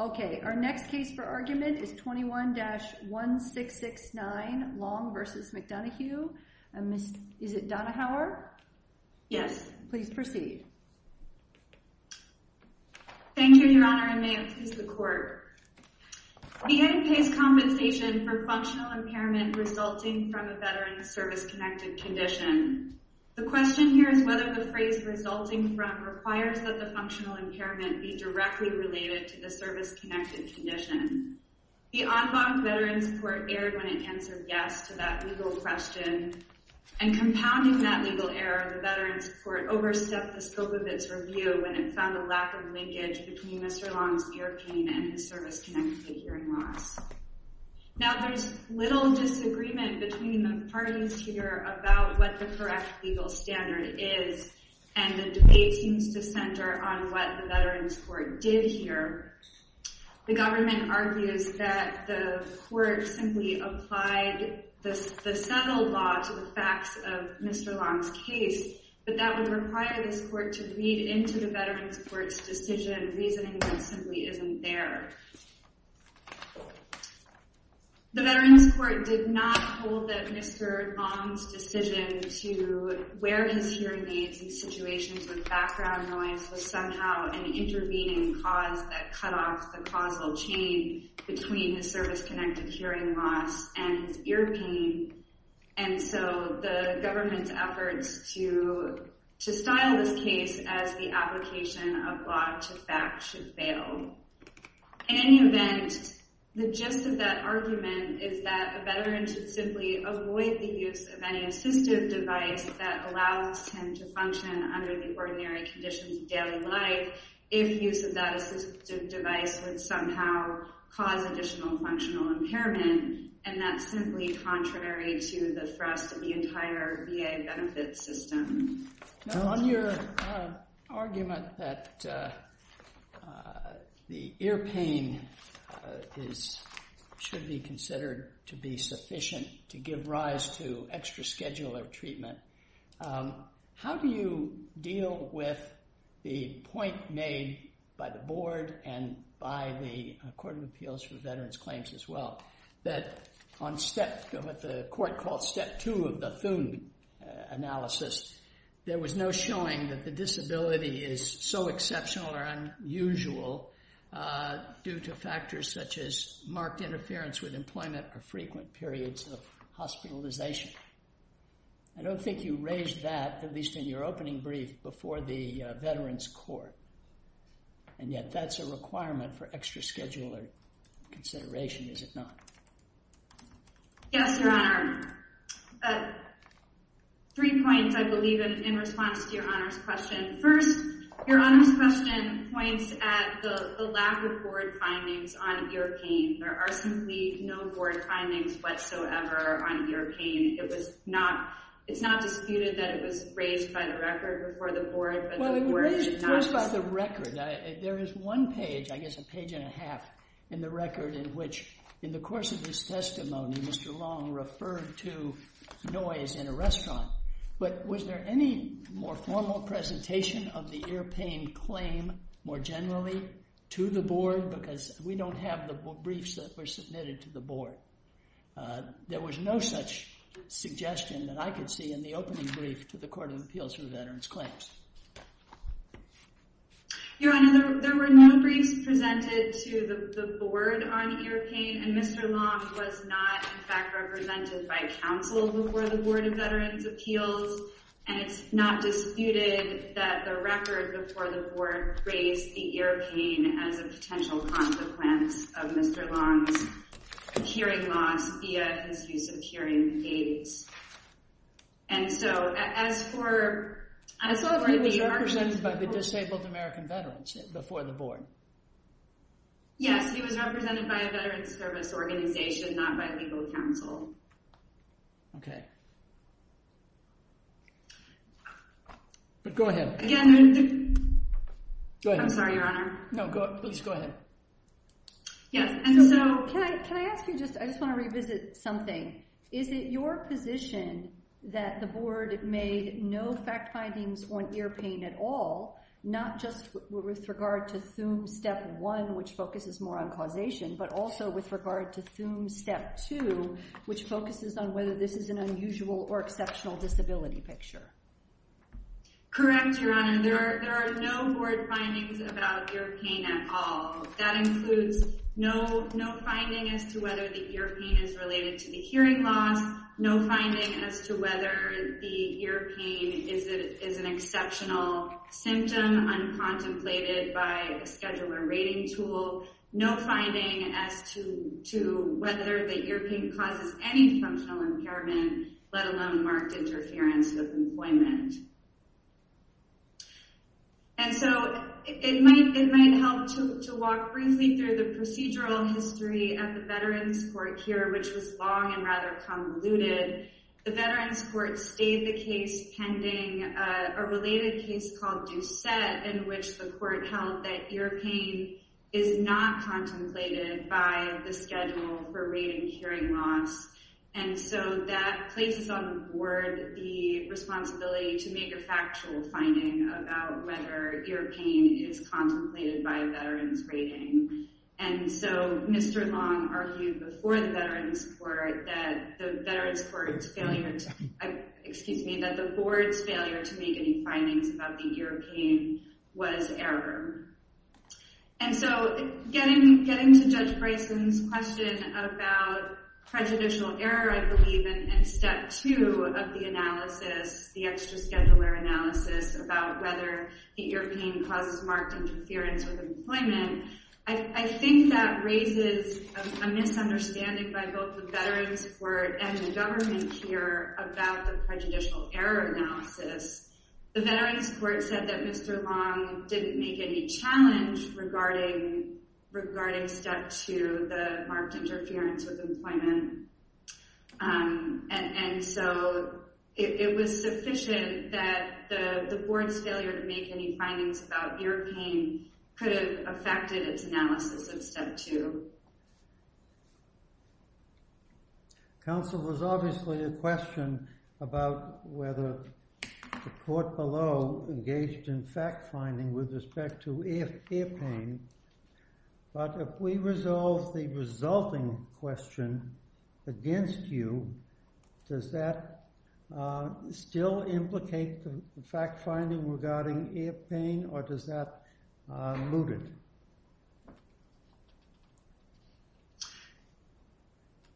Okay, our next case for argument is 21-1669 Long v. McDonoghue. Is it Donahauer? Yes. Please proceed. Thank you, Your Honor, and may it please the Court. He had in place compensation for functional impairment resulting from a Veterans Service Connected condition. The question here is whether the phrase resulting from requires that the service-connected condition. The en banc Veterans Court erred when it answered yes to that legal question, and compounding that legal error, the Veterans Court overstepped the scope of its review when it found a lack of linkage between Mr. Long's ear pain and his service-connected hearing loss. Now, there's little disagreement between the parties here about what the correct standard is, and the debate seems to center on what the Veterans Court did here. The government argues that the Court simply applied the settled law to the facts of Mr. Long's case, but that would require this Court to read into the Veterans Court's decision, reasoning that simply isn't there. The Veterans Court did not hold that Mr. Long's decision to wear his hearing aids in situations with background noise was somehow an intervening cause that cut off the causal chain between his service-connected hearing loss and his ear pain, and so the government's efforts to style this case as the application of law to fact should fail. In any event, the gist of that argument is that a veteran should simply avoid the use of any assistive device that allows him to function under the ordinary conditions of daily life if use of that assistive device would somehow cause additional functional impairment, and that's simply contrary to the thrust of the entire VA benefits system. On your argument that the ear pain should be considered to be sufficient to give rise to extra-schedule of treatment, how do you deal with the point made by the Board and by the Court of Appeals for Veterans Claims as well, that on step, what the Court called step two of the Thune analysis, there was no showing that the disability is so exceptional or unusual due to factors such as marked interference with employment or frequent periods of hospitalization? I don't think you raised that, at least in your opening brief, before the Veterans Court, and yet that's a requirement for extra-schedule or consideration, is it not? Yes, Your Honor. Three points, I believe, in response to Your Honor's question. First, Your Honor's question points at the lack of Board findings on ear pain. There are simply no Board findings whatsoever on ear pain. It was not, it's not disputed that it was raised by the Record before the Board, but the Board did not... Well, it was raised first by the Record. There is one page, I guess a page and a half, in the Record in which, in the course of this testimony, Mr. Long referred to noise in a restaurant, but was there any more formal presentation of the ear pain claim, more generally, to the Board? Because we don't have the briefs that were submitted to the Board. There was no such suggestion that I could see in the opening brief to the Court of Appeals. No briefs presented to the Board on ear pain, and Mr. Long was not, in fact, represented by counsel before the Board of Veterans' Appeals, and it's not disputed that the Record before the Board raised the ear pain as a potential consequence of Mr. Long's hearing loss via his use of hearing aids. And so, as for... As long as he was represented by the Disabled American Veterans before the Board. Yes, he was represented by a Veterans Service Organization, not by legal counsel. Okay. But go ahead. Again... Go ahead. I'm sorry, Your Honor. No, go, please go ahead. Yes, and so... Can I ask you just... I just want to revisit something. Is it your position that the Board made no fact findings on ear pain at all, not just with regard to Thume Step 1, which focuses more on causation, but also with regard to Thume Step 2, which focuses on whether this is an unusual or exceptional disability picture? Correct, Your Honor. There are no Board findings about ear pain at all. That includes no finding as to whether the ear pain is related to the hearing loss, no finding as to whether the ear pain is an exceptional symptom, uncontemplated by a scheduler rating tool, no finding as to whether the ear pain causes any functional impairment, let alone marked interference with employment. And so, it might help to walk briefly through the procedural history of the Veterans Court here, which was long and rather convoluted. The Veterans Court stayed the case pending a related case called Doucette, in which the Court held that ear pain is not the responsibility to make a factual finding about whether ear pain is contemplated by a veteran's rating. And so, Mr. Long argued before the Veterans Court that the Veterans Court's failure to... Excuse me, that the Board's failure to make any findings about the ear pain was error. And so, getting to Judge Bryson's question about prejudicial error, I believe in Step 2 of the analysis, the extra scheduler analysis about whether the ear pain causes marked interference with employment. I think that raises a misunderstanding by both the Veterans Court and the government here about the prejudicial error analysis. The Veterans Court said that Mr. Long didn't make any challenge regarding Step 2, the marked interference with employment. And so, it was sufficient that the Board's failure to make any findings about ear pain could have affected its analysis of Step 2. Counsel, there's obviously a question about whether the court below engaged in fact-finding with respect to ear pain. But if we resolve the resulting question against you, does that still implicate the fact-finding regarding ear pain, or does that mute it?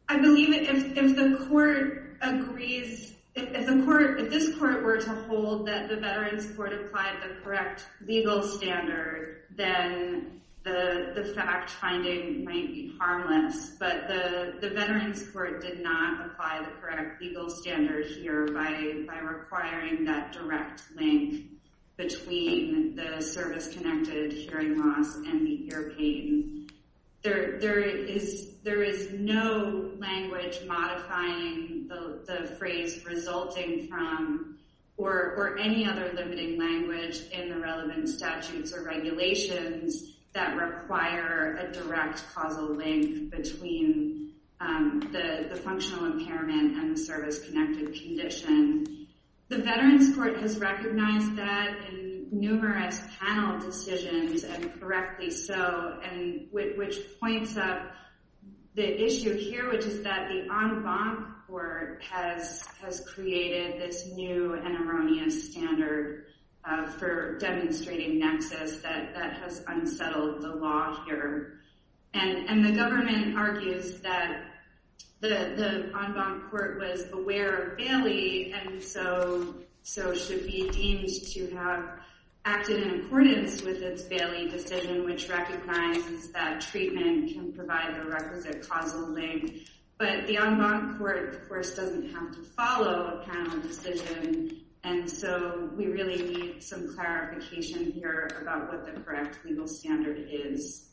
I believe if the court agrees... If this court were to hold that the Veterans Court applied the correct legal standard, then the fact-finding might be harmless. But the Veterans Court did not apply the correct legal standard here by requiring that direct link between the service-connected hearing loss and the ear pain. There is no language modifying the phrase resulting from, or any other limiting language in the relevant statutes or regulations that require a direct causal link between the functional impairment and the service-connected condition. The Veterans Court has recognized that in numerous panel decisions, and correctly so, which points up the issue here, which is that the en banc court has created this new and erroneous standard for demonstrating nexus that has unsettled the law here. And the government argues that the en banc court was aware of Bailey, and so should be deemed to have acted in accordance with its Bailey decision, which recognizes that treatment can provide the requisite causal link. But the en banc court, of course, doesn't have to follow a panel decision, and so we really need some clarification here about what the correct legal standard is.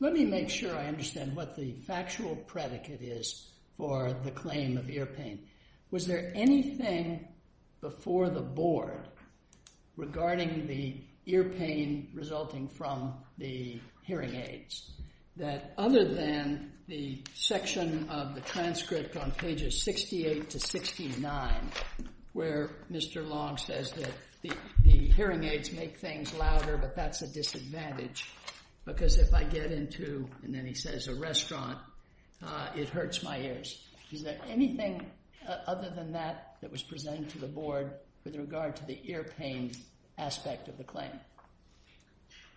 Let me make sure I understand what the factual predicate is for the claim of ear pain. Was there anything before the board regarding the ear pain resulting from the hearing aids that, other than the section of the transcript on pages 68 to 69, where Mr. Long says that the hearing aids make things louder, but that's a disadvantage, because if I get into, and then he says, a restaurant, it hurts my ears. Is there anything other than that that was presented to the board with regard to the ear pain aspect of the claim?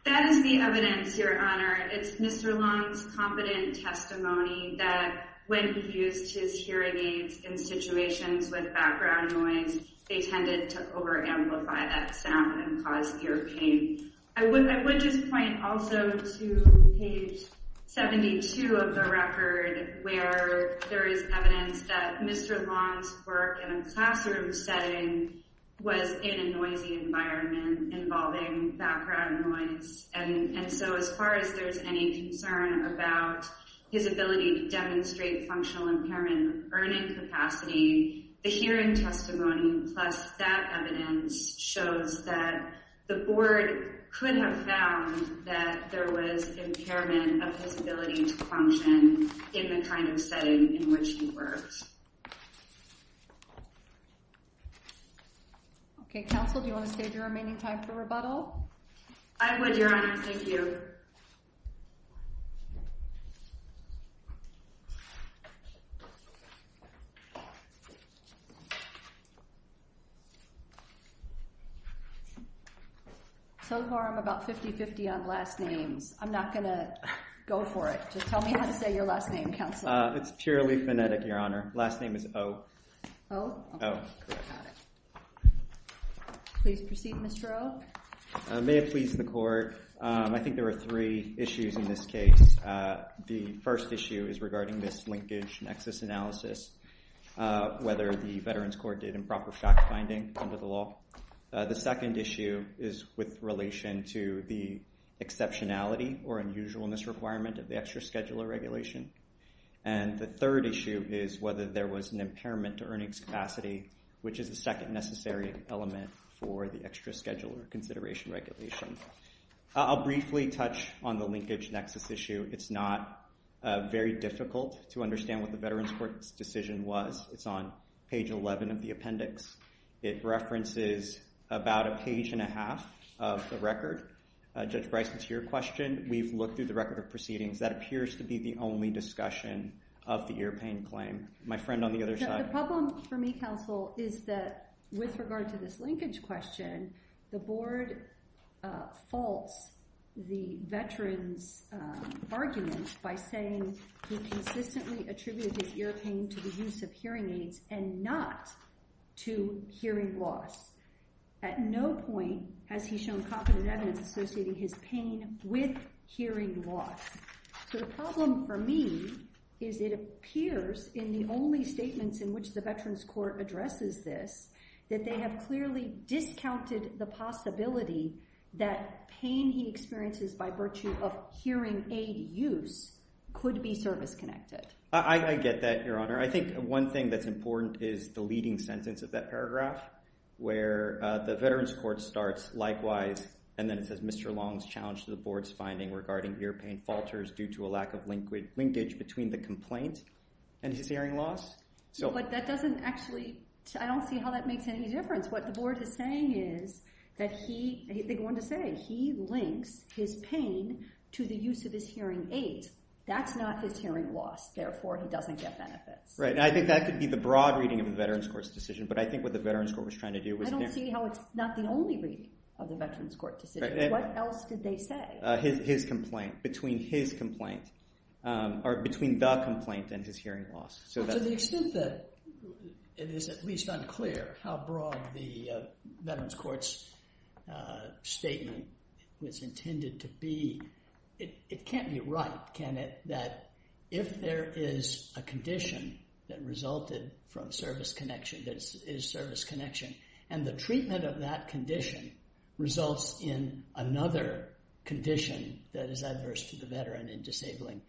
That is the evidence, Your Honor. It's Mr. Long's competent testimony that when he used his hearing aids in situations with background noise, they tended to where there is evidence that Mr. Long's work in a classroom setting was in a noisy environment involving background noise, and so as far as there's any concern about his ability to demonstrate functional impairment earning capacity, the hearing testimony plus that evidence shows that the board could have found that there was impairment of his ability to function in the kind of setting in which he works. Okay, counsel, do you want to save your remaining time for rebuttal? I would, Your Honor. Thank you. So far, I'm about 50-50 on last names. I'm not going to go for it. Just tell me how to say your last name, counsel. It's purely phonetic, Your Honor. Last name is O. O? O. Correct. Please proceed, Mr. O. May it please the court. I think there are three issues in this case. The first issue is regarding this linkage nexus analysis, whether the Veterans Court did improper shock finding under the law. The second issue is with the exceptionality or unusualness requirement of the extra scheduler regulation, and the third issue is whether there was an impairment to earnings capacity, which is the second necessary element for the extra scheduler consideration regulation. I'll briefly touch on the linkage nexus issue. It's not very difficult to understand what the Veterans Court's decision was. It's on page 11 of the appendix. It references about a page and a record. Judge Bryson, to your question, we've looked through the record of proceedings. That appears to be the only discussion of the ear pain claim. My friend on the other side. The problem for me, counsel, is that with regard to this linkage question, the board faults the Veterans' argument by saying he consistently attributed his ear pain to the evidence associating his pain with hearing loss. So the problem for me is it appears in the only statements in which the Veterans Court addresses this that they have clearly discounted the possibility that pain he experiences by virtue of hearing aid use could be service-connected. I get that, Your Honor. I think one thing that's important is the leading sentence of that paragraph where the Veterans Court starts, likewise, and then it says, Mr. Long's challenge to the board's finding regarding ear pain falters due to a lack of linkage between the complaint and his hearing loss. But that doesn't actually, I don't see how that makes any difference. What the board is saying is that he, they're going to say he links his pain to the use of his hearing aid. That's not his hearing loss. Therefore, he doesn't get benefits. Right. And I think that could be the broad reading of the Veterans Court's decision. But I think what the Veterans Court was trying to do was... I don't see how it's not the only reading of the Veterans Court decision. What else did they say? His complaint, between his complaint, or between the complaint and his hearing loss. To the extent that it is at least unclear how broad the Veterans Court's statement was intended to be, it can't be right, can it? That if there is a condition that resulted from service connection, that is service connection, and the treatment of that condition results in another condition that is adverse to the veteran in disabling,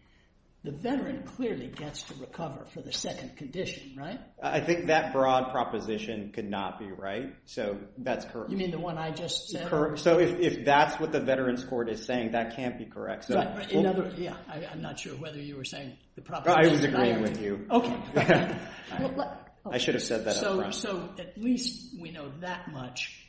the veteran clearly gets to recover for the second condition, right? I think that broad proposition could not be right. So, that's correct. You mean the one I just said? So, if that's what the Veterans Court is saying, that can't be correct. Yeah. I'm not sure whether you were saying the proper... I was agreeing with you. Okay. I should have said that up front. So, at least we know that much.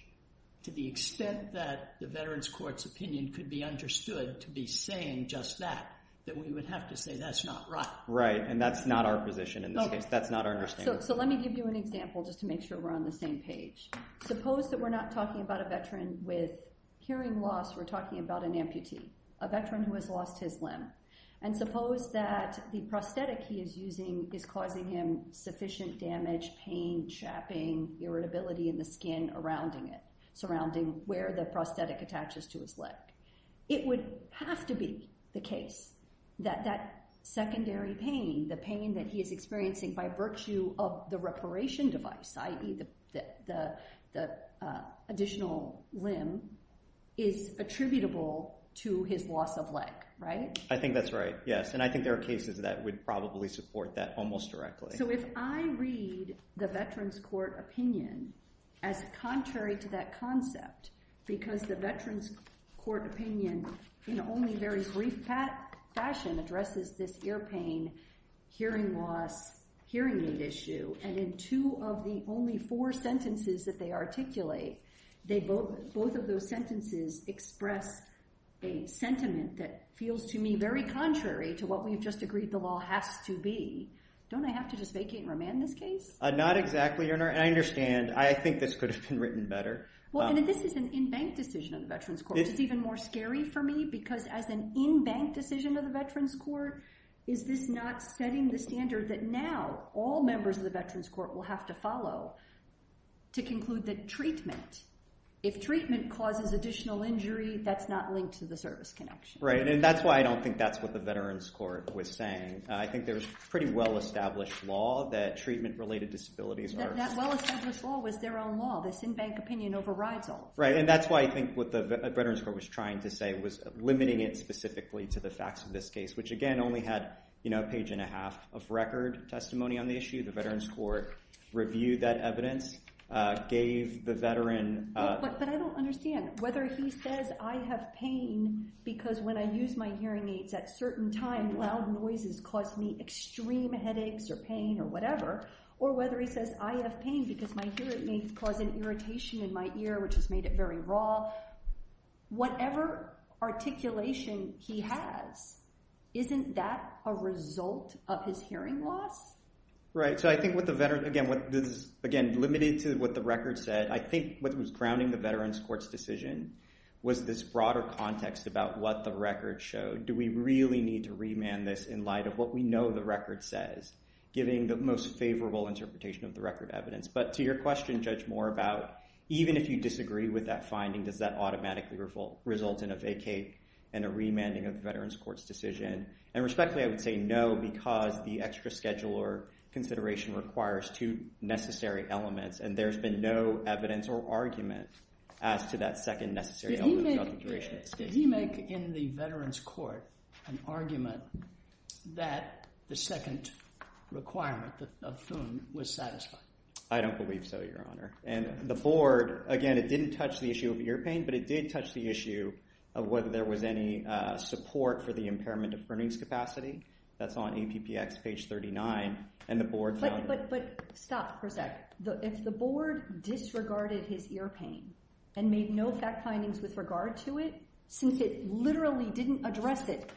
To the extent that the Veterans Court's opinion could be understood to be saying just that, then we would have to say that's not right. Right. And that's not our position in this case. That's not our understanding. So, let me give you an example just to make sure we're on the same page. Suppose that we're not talking about a veteran with hearing loss. We're talking about an amputee, a veteran who has lost his limb. And suppose that the prosthetic he is using is causing him sufficient damage, pain, chapping, irritability in the skin surrounding it, surrounding where the prosthetic attaches to his leg. It would have to be the case that that secondary pain, the pain that he is experiencing by virtue of the reparation device, i.e. the additional limb, is attributable to his loss of leg. Right? I think that's right. Yes. And I think there are cases that would probably support that almost directly. So, if I read the Veterans Court opinion as contrary to that concept because the Veterans Court opinion in only very brief fashion addresses this ear pain, hearing loss, hearing aid issue. And in two of the only four sentences that they articulate, both of those sentences express a sentiment that feels to me very contrary to what we've just agreed the law has to be. Don't I have to just vacate and remand this case? Not exactly, Your Honor. And I understand. I think this could have been written better. Well, and this is an in-bank decision of the Veterans Court. It's even more scary for me is this not setting the standard that now all members of the Veterans Court will have to follow to conclude that treatment, if treatment causes additional injury, that's not linked to the service connection. Right. And that's why I don't think that's what the Veterans Court was saying. I think there's a pretty well-established law that treatment-related disabilities are... That well-established law was their own law. This in-bank opinion overrides all. Right. And that's why I think what the Veterans Court was trying to say was limiting it specifically to the facts of this case, which again, only had a page and a half of record testimony on the issue. The Veterans Court reviewed that evidence, gave the veteran... But I don't understand whether he says, I have pain because when I use my hearing aids at certain times, loud noises cause me extreme headaches or pain or whatever, or whether he says, I have pain because my hearing aids cause an irritation in my ear, which has made it very raw. Whatever articulation he has, isn't that a result of his hearing loss? Right. So I think what the veteran... Again, limited to what the record said, I think what was grounding the Veterans Court's decision was this broader context about what the record showed. Do we really need to remand this in light of what we know the record says, giving the most favorable interpretation of the record evidence? But to your question, Judge Moore, about even if you disagree with that finding, does that automatically result in a vacate and a remanding of the Veterans Court's decision? And respectfully, I would say no, because the extra scheduler consideration requires two necessary elements, and there's been no evidence or argument as to that second necessary element... Did he make in the Veterans Court an argument that the second requirement of Foon was satisfied? I don't believe so, Your Honor. And the board, again, it didn't touch the issue of ear pain, but it did touch the issue of whether there was any support for the impairment of earnings capacity. That's on APPX page 39, and the board... But stop for a sec. If the board disregarded his ear pain and made no fact findings with regard to it, since it literally didn't address it,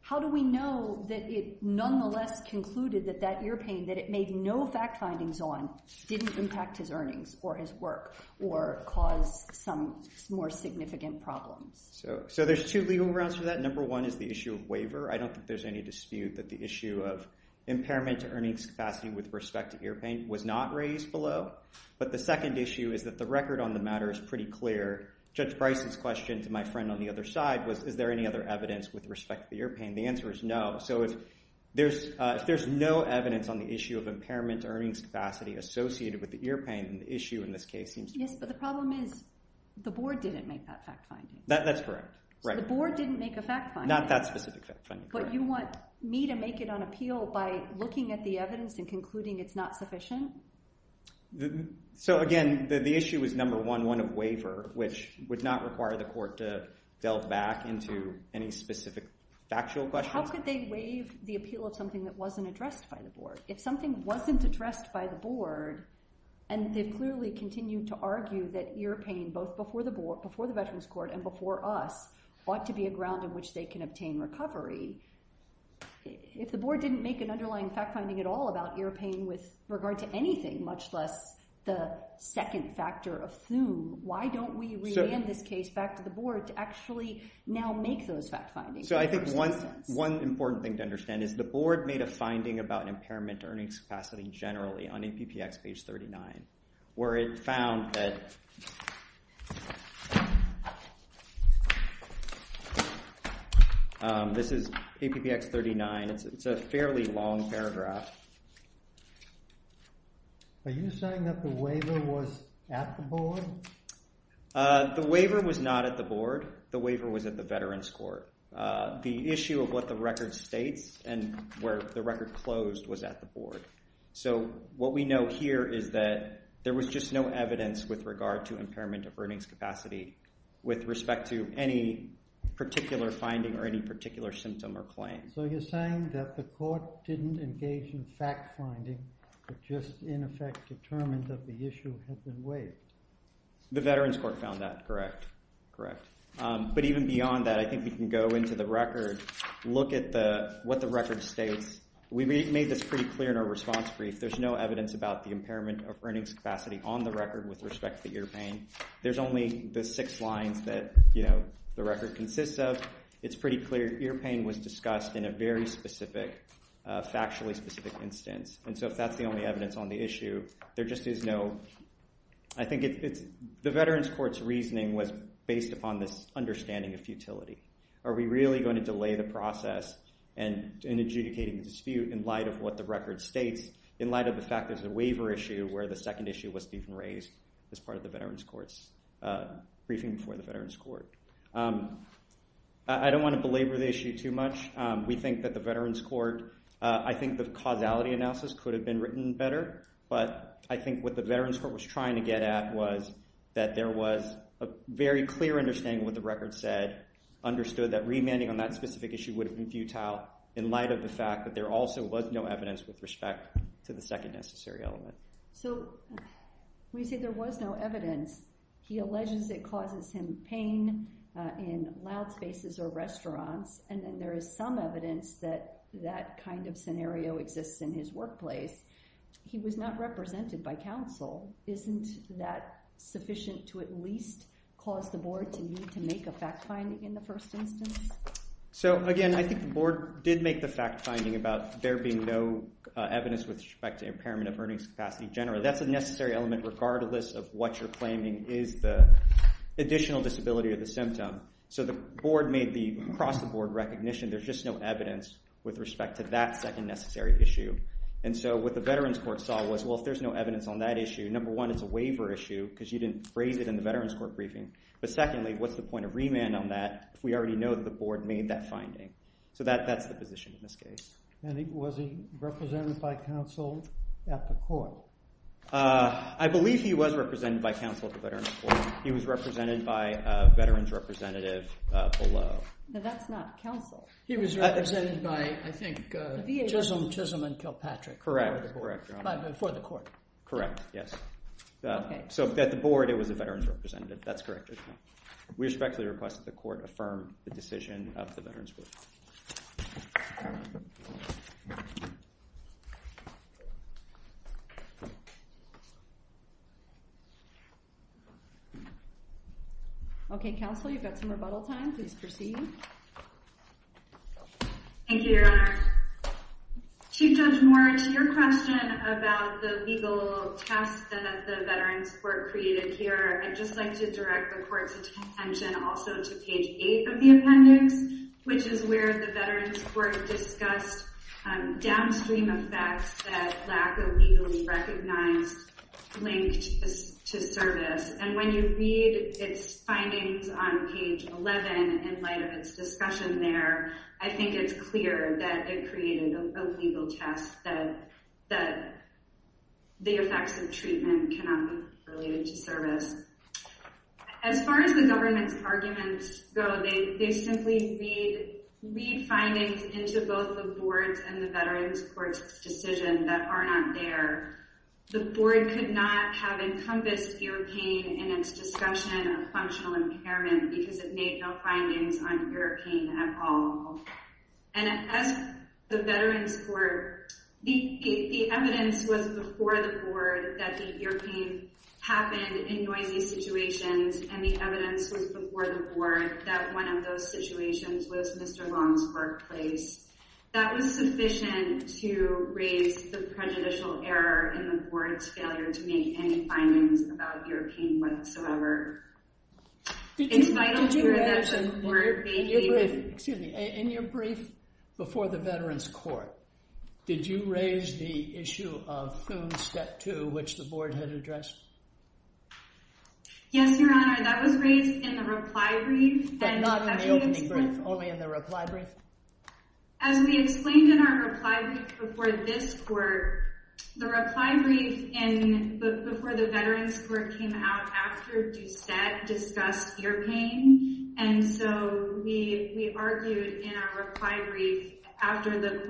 how do we know that it nonetheless concluded that that ear pain that it made no fact findings on didn't impact his earnings or his work or cause some more significant problems? So there's two legal grounds for that. Number one is the issue of waiver. I don't think there's any dispute that the issue of impairment to earnings capacity with respect to ear pain was not raised below. But the second issue is that the record on the matter is pretty clear. Judge Price's question to my friend on the other side was, is there any other evidence with respect to ear pain? The answer is no. So if there's no evidence on the issue of impairment to earnings capacity associated with the ear pain, the issue in this case seems... Yes, but the problem is the board didn't make that fact finding. That's correct. The board didn't make a fact finding. Not that specific fact finding. But you want me to make it on appeal by looking at the evidence and concluding it's not sufficient? So again, the issue is number one, one of waiver, which would not require the court to delve back into any specific factual questions. How could they waive the appeal of something that wasn't addressed by the board? If something wasn't addressed by the board, and they've clearly continued to argue that ear pain, both before the veterans court and before us, ought to be a ground on which they can obtain recovery. If the board didn't make an underlying fact finding at all about ear pain with regard to anything, much less the second factor of Thume, why don't we re-land this case back to the board to actually now make those fact findings? So I think one important thing to understand is the generally on APPX page 39, where it found that this is APPX 39. It's a fairly long paragraph. Are you saying that the waiver was at the board? The waiver was not at the board. The waiver was at the veterans court. The issue of what record states and where the record closed was at the board. So what we know here is that there was just no evidence with regard to impairment of earnings capacity with respect to any particular finding or any particular symptom or claim. So you're saying that the court didn't engage in fact finding, but just in effect determined that the issue has been waived? The veterans court found that correct. Correct. But even beyond that, I think we can go into the record, look at what the record states. We made this pretty clear in our response brief. There's no evidence about the impairment of earnings capacity on the record with respect to ear pain. There's only the six lines that the record consists of. It's pretty clear ear pain was discussed in a very specific, factually specific instance. And so if that's the only evidence on the issue, there just is no. I think the veterans court's reasoning was based upon this understanding of futility. Are we really going to delay the process in adjudicating the dispute in light of what the record states in light of the fact there's a waiver issue where the second issue was even raised as part of the veterans court's briefing for the veterans court. I don't want to belabor the issue too much. We think that the veterans court, I think the causality analysis could have been written better, but I think what the veterans court was trying to get at was that there was a very clear understanding what the record said, understood that remanding on that specific issue would have been futile in light of the fact that there also was no evidence with respect to the second necessary element. So when you say there was no evidence, he alleges it causes him pain in loud spaces or restaurants. And then there is some evidence that that kind of scenario exists in his workplace. He was not represented by counsel. Isn't that sufficient to at least cause the board to need to make a fact finding in the first instance? So again, I think the board did make the fact finding about there being no evidence with respect to impairment of earnings capacity in general. That's a necessary element regardless of what you're claiming is the additional disability of the symptom. So the board made the across the board recognition. There's no evidence with respect to that second necessary issue. And so what the veterans court saw was, well, if there's no evidence on that issue, number one, it's a waiver issue because you didn't phrase it in the veterans court briefing. But secondly, what's the point of remand on that if we already know that the board made that finding? So that's the position in this case. And was he represented by counsel at the court? I believe he was represented by counsel at the veterans court. He was represented by I think Chisholm Chisholm and Kilpatrick for the court. Correct. Yes. So at the board, it was a veterans representative. That's correct. We respectfully request that the court affirm the decision of the veterans. Okay, counsel, you've got some rebuttal time. Please proceed. Thank you, Your Honor. Chief Judge Moritz, your question about the legal test that the veterans court created here, I'd just like to direct the court's attention also to page eight of the appendix, which is where the veterans court discussed downstream effects that legally recognized linked to service. And when you read its findings on page 11, in light of its discussion there, I think it's clear that it created a legal test that the effects of treatment cannot be related to service. As far as the government's arguments go, they simply read findings into both the board's and the veterans court's decision that are not there. The board could not have encompassed ear pain in its discussion of functional impairment because it made no findings on ear pain at all. And as the veterans court, the evidence was before the board that the ear pain happened in noisy situations. And the evidence was before the board that one of those situations was Mr. Long's workplace. That was sufficient to raise the prejudicial error in the board's failure to make any findings about ear pain whatsoever. Excuse me, in your brief before the veterans court, did you raise the issue of Thune step two, which the board had addressed? Yes, Your Honor, that was raised in the reply brief. But not in the opening brief, only in the reply brief? As we explained in our reply brief before this court, the reply brief in before the veterans court came out after Doucette discussed ear pain. And so we argued in our reply brief after the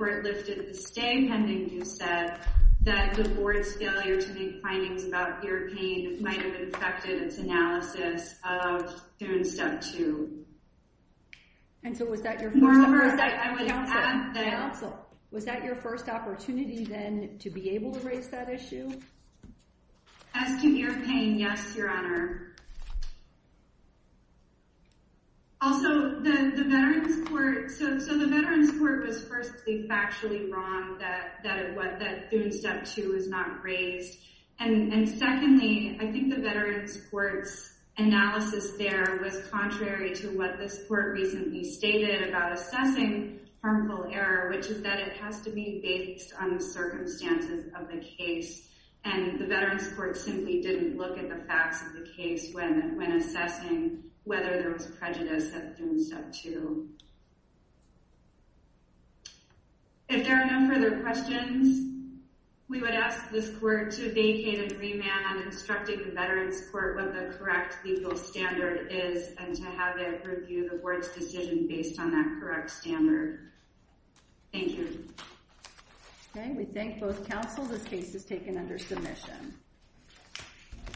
might have affected its analysis of Thune step two. And so was that your first opportunity then to be able to raise that issue? As to ear pain, yes, Your Honor. Also, the veterans court was firstly factually wrong that Thune step two is not raised. And secondly, I think the veterans court's analysis there was contrary to what this court recently stated about assessing harmful error, which is that it has to be based on the circumstances of the case. And the veterans court simply didn't look at the facts of the case when assessing whether there was prejudice at Thune step two. If there are no further questions, we would ask this court to vacate and remand on instructing the veterans court what the correct legal standard is, and to have it review the board's decision based on that correct standard. Thank you. Okay, we thank both counsel. This case is taken under submission.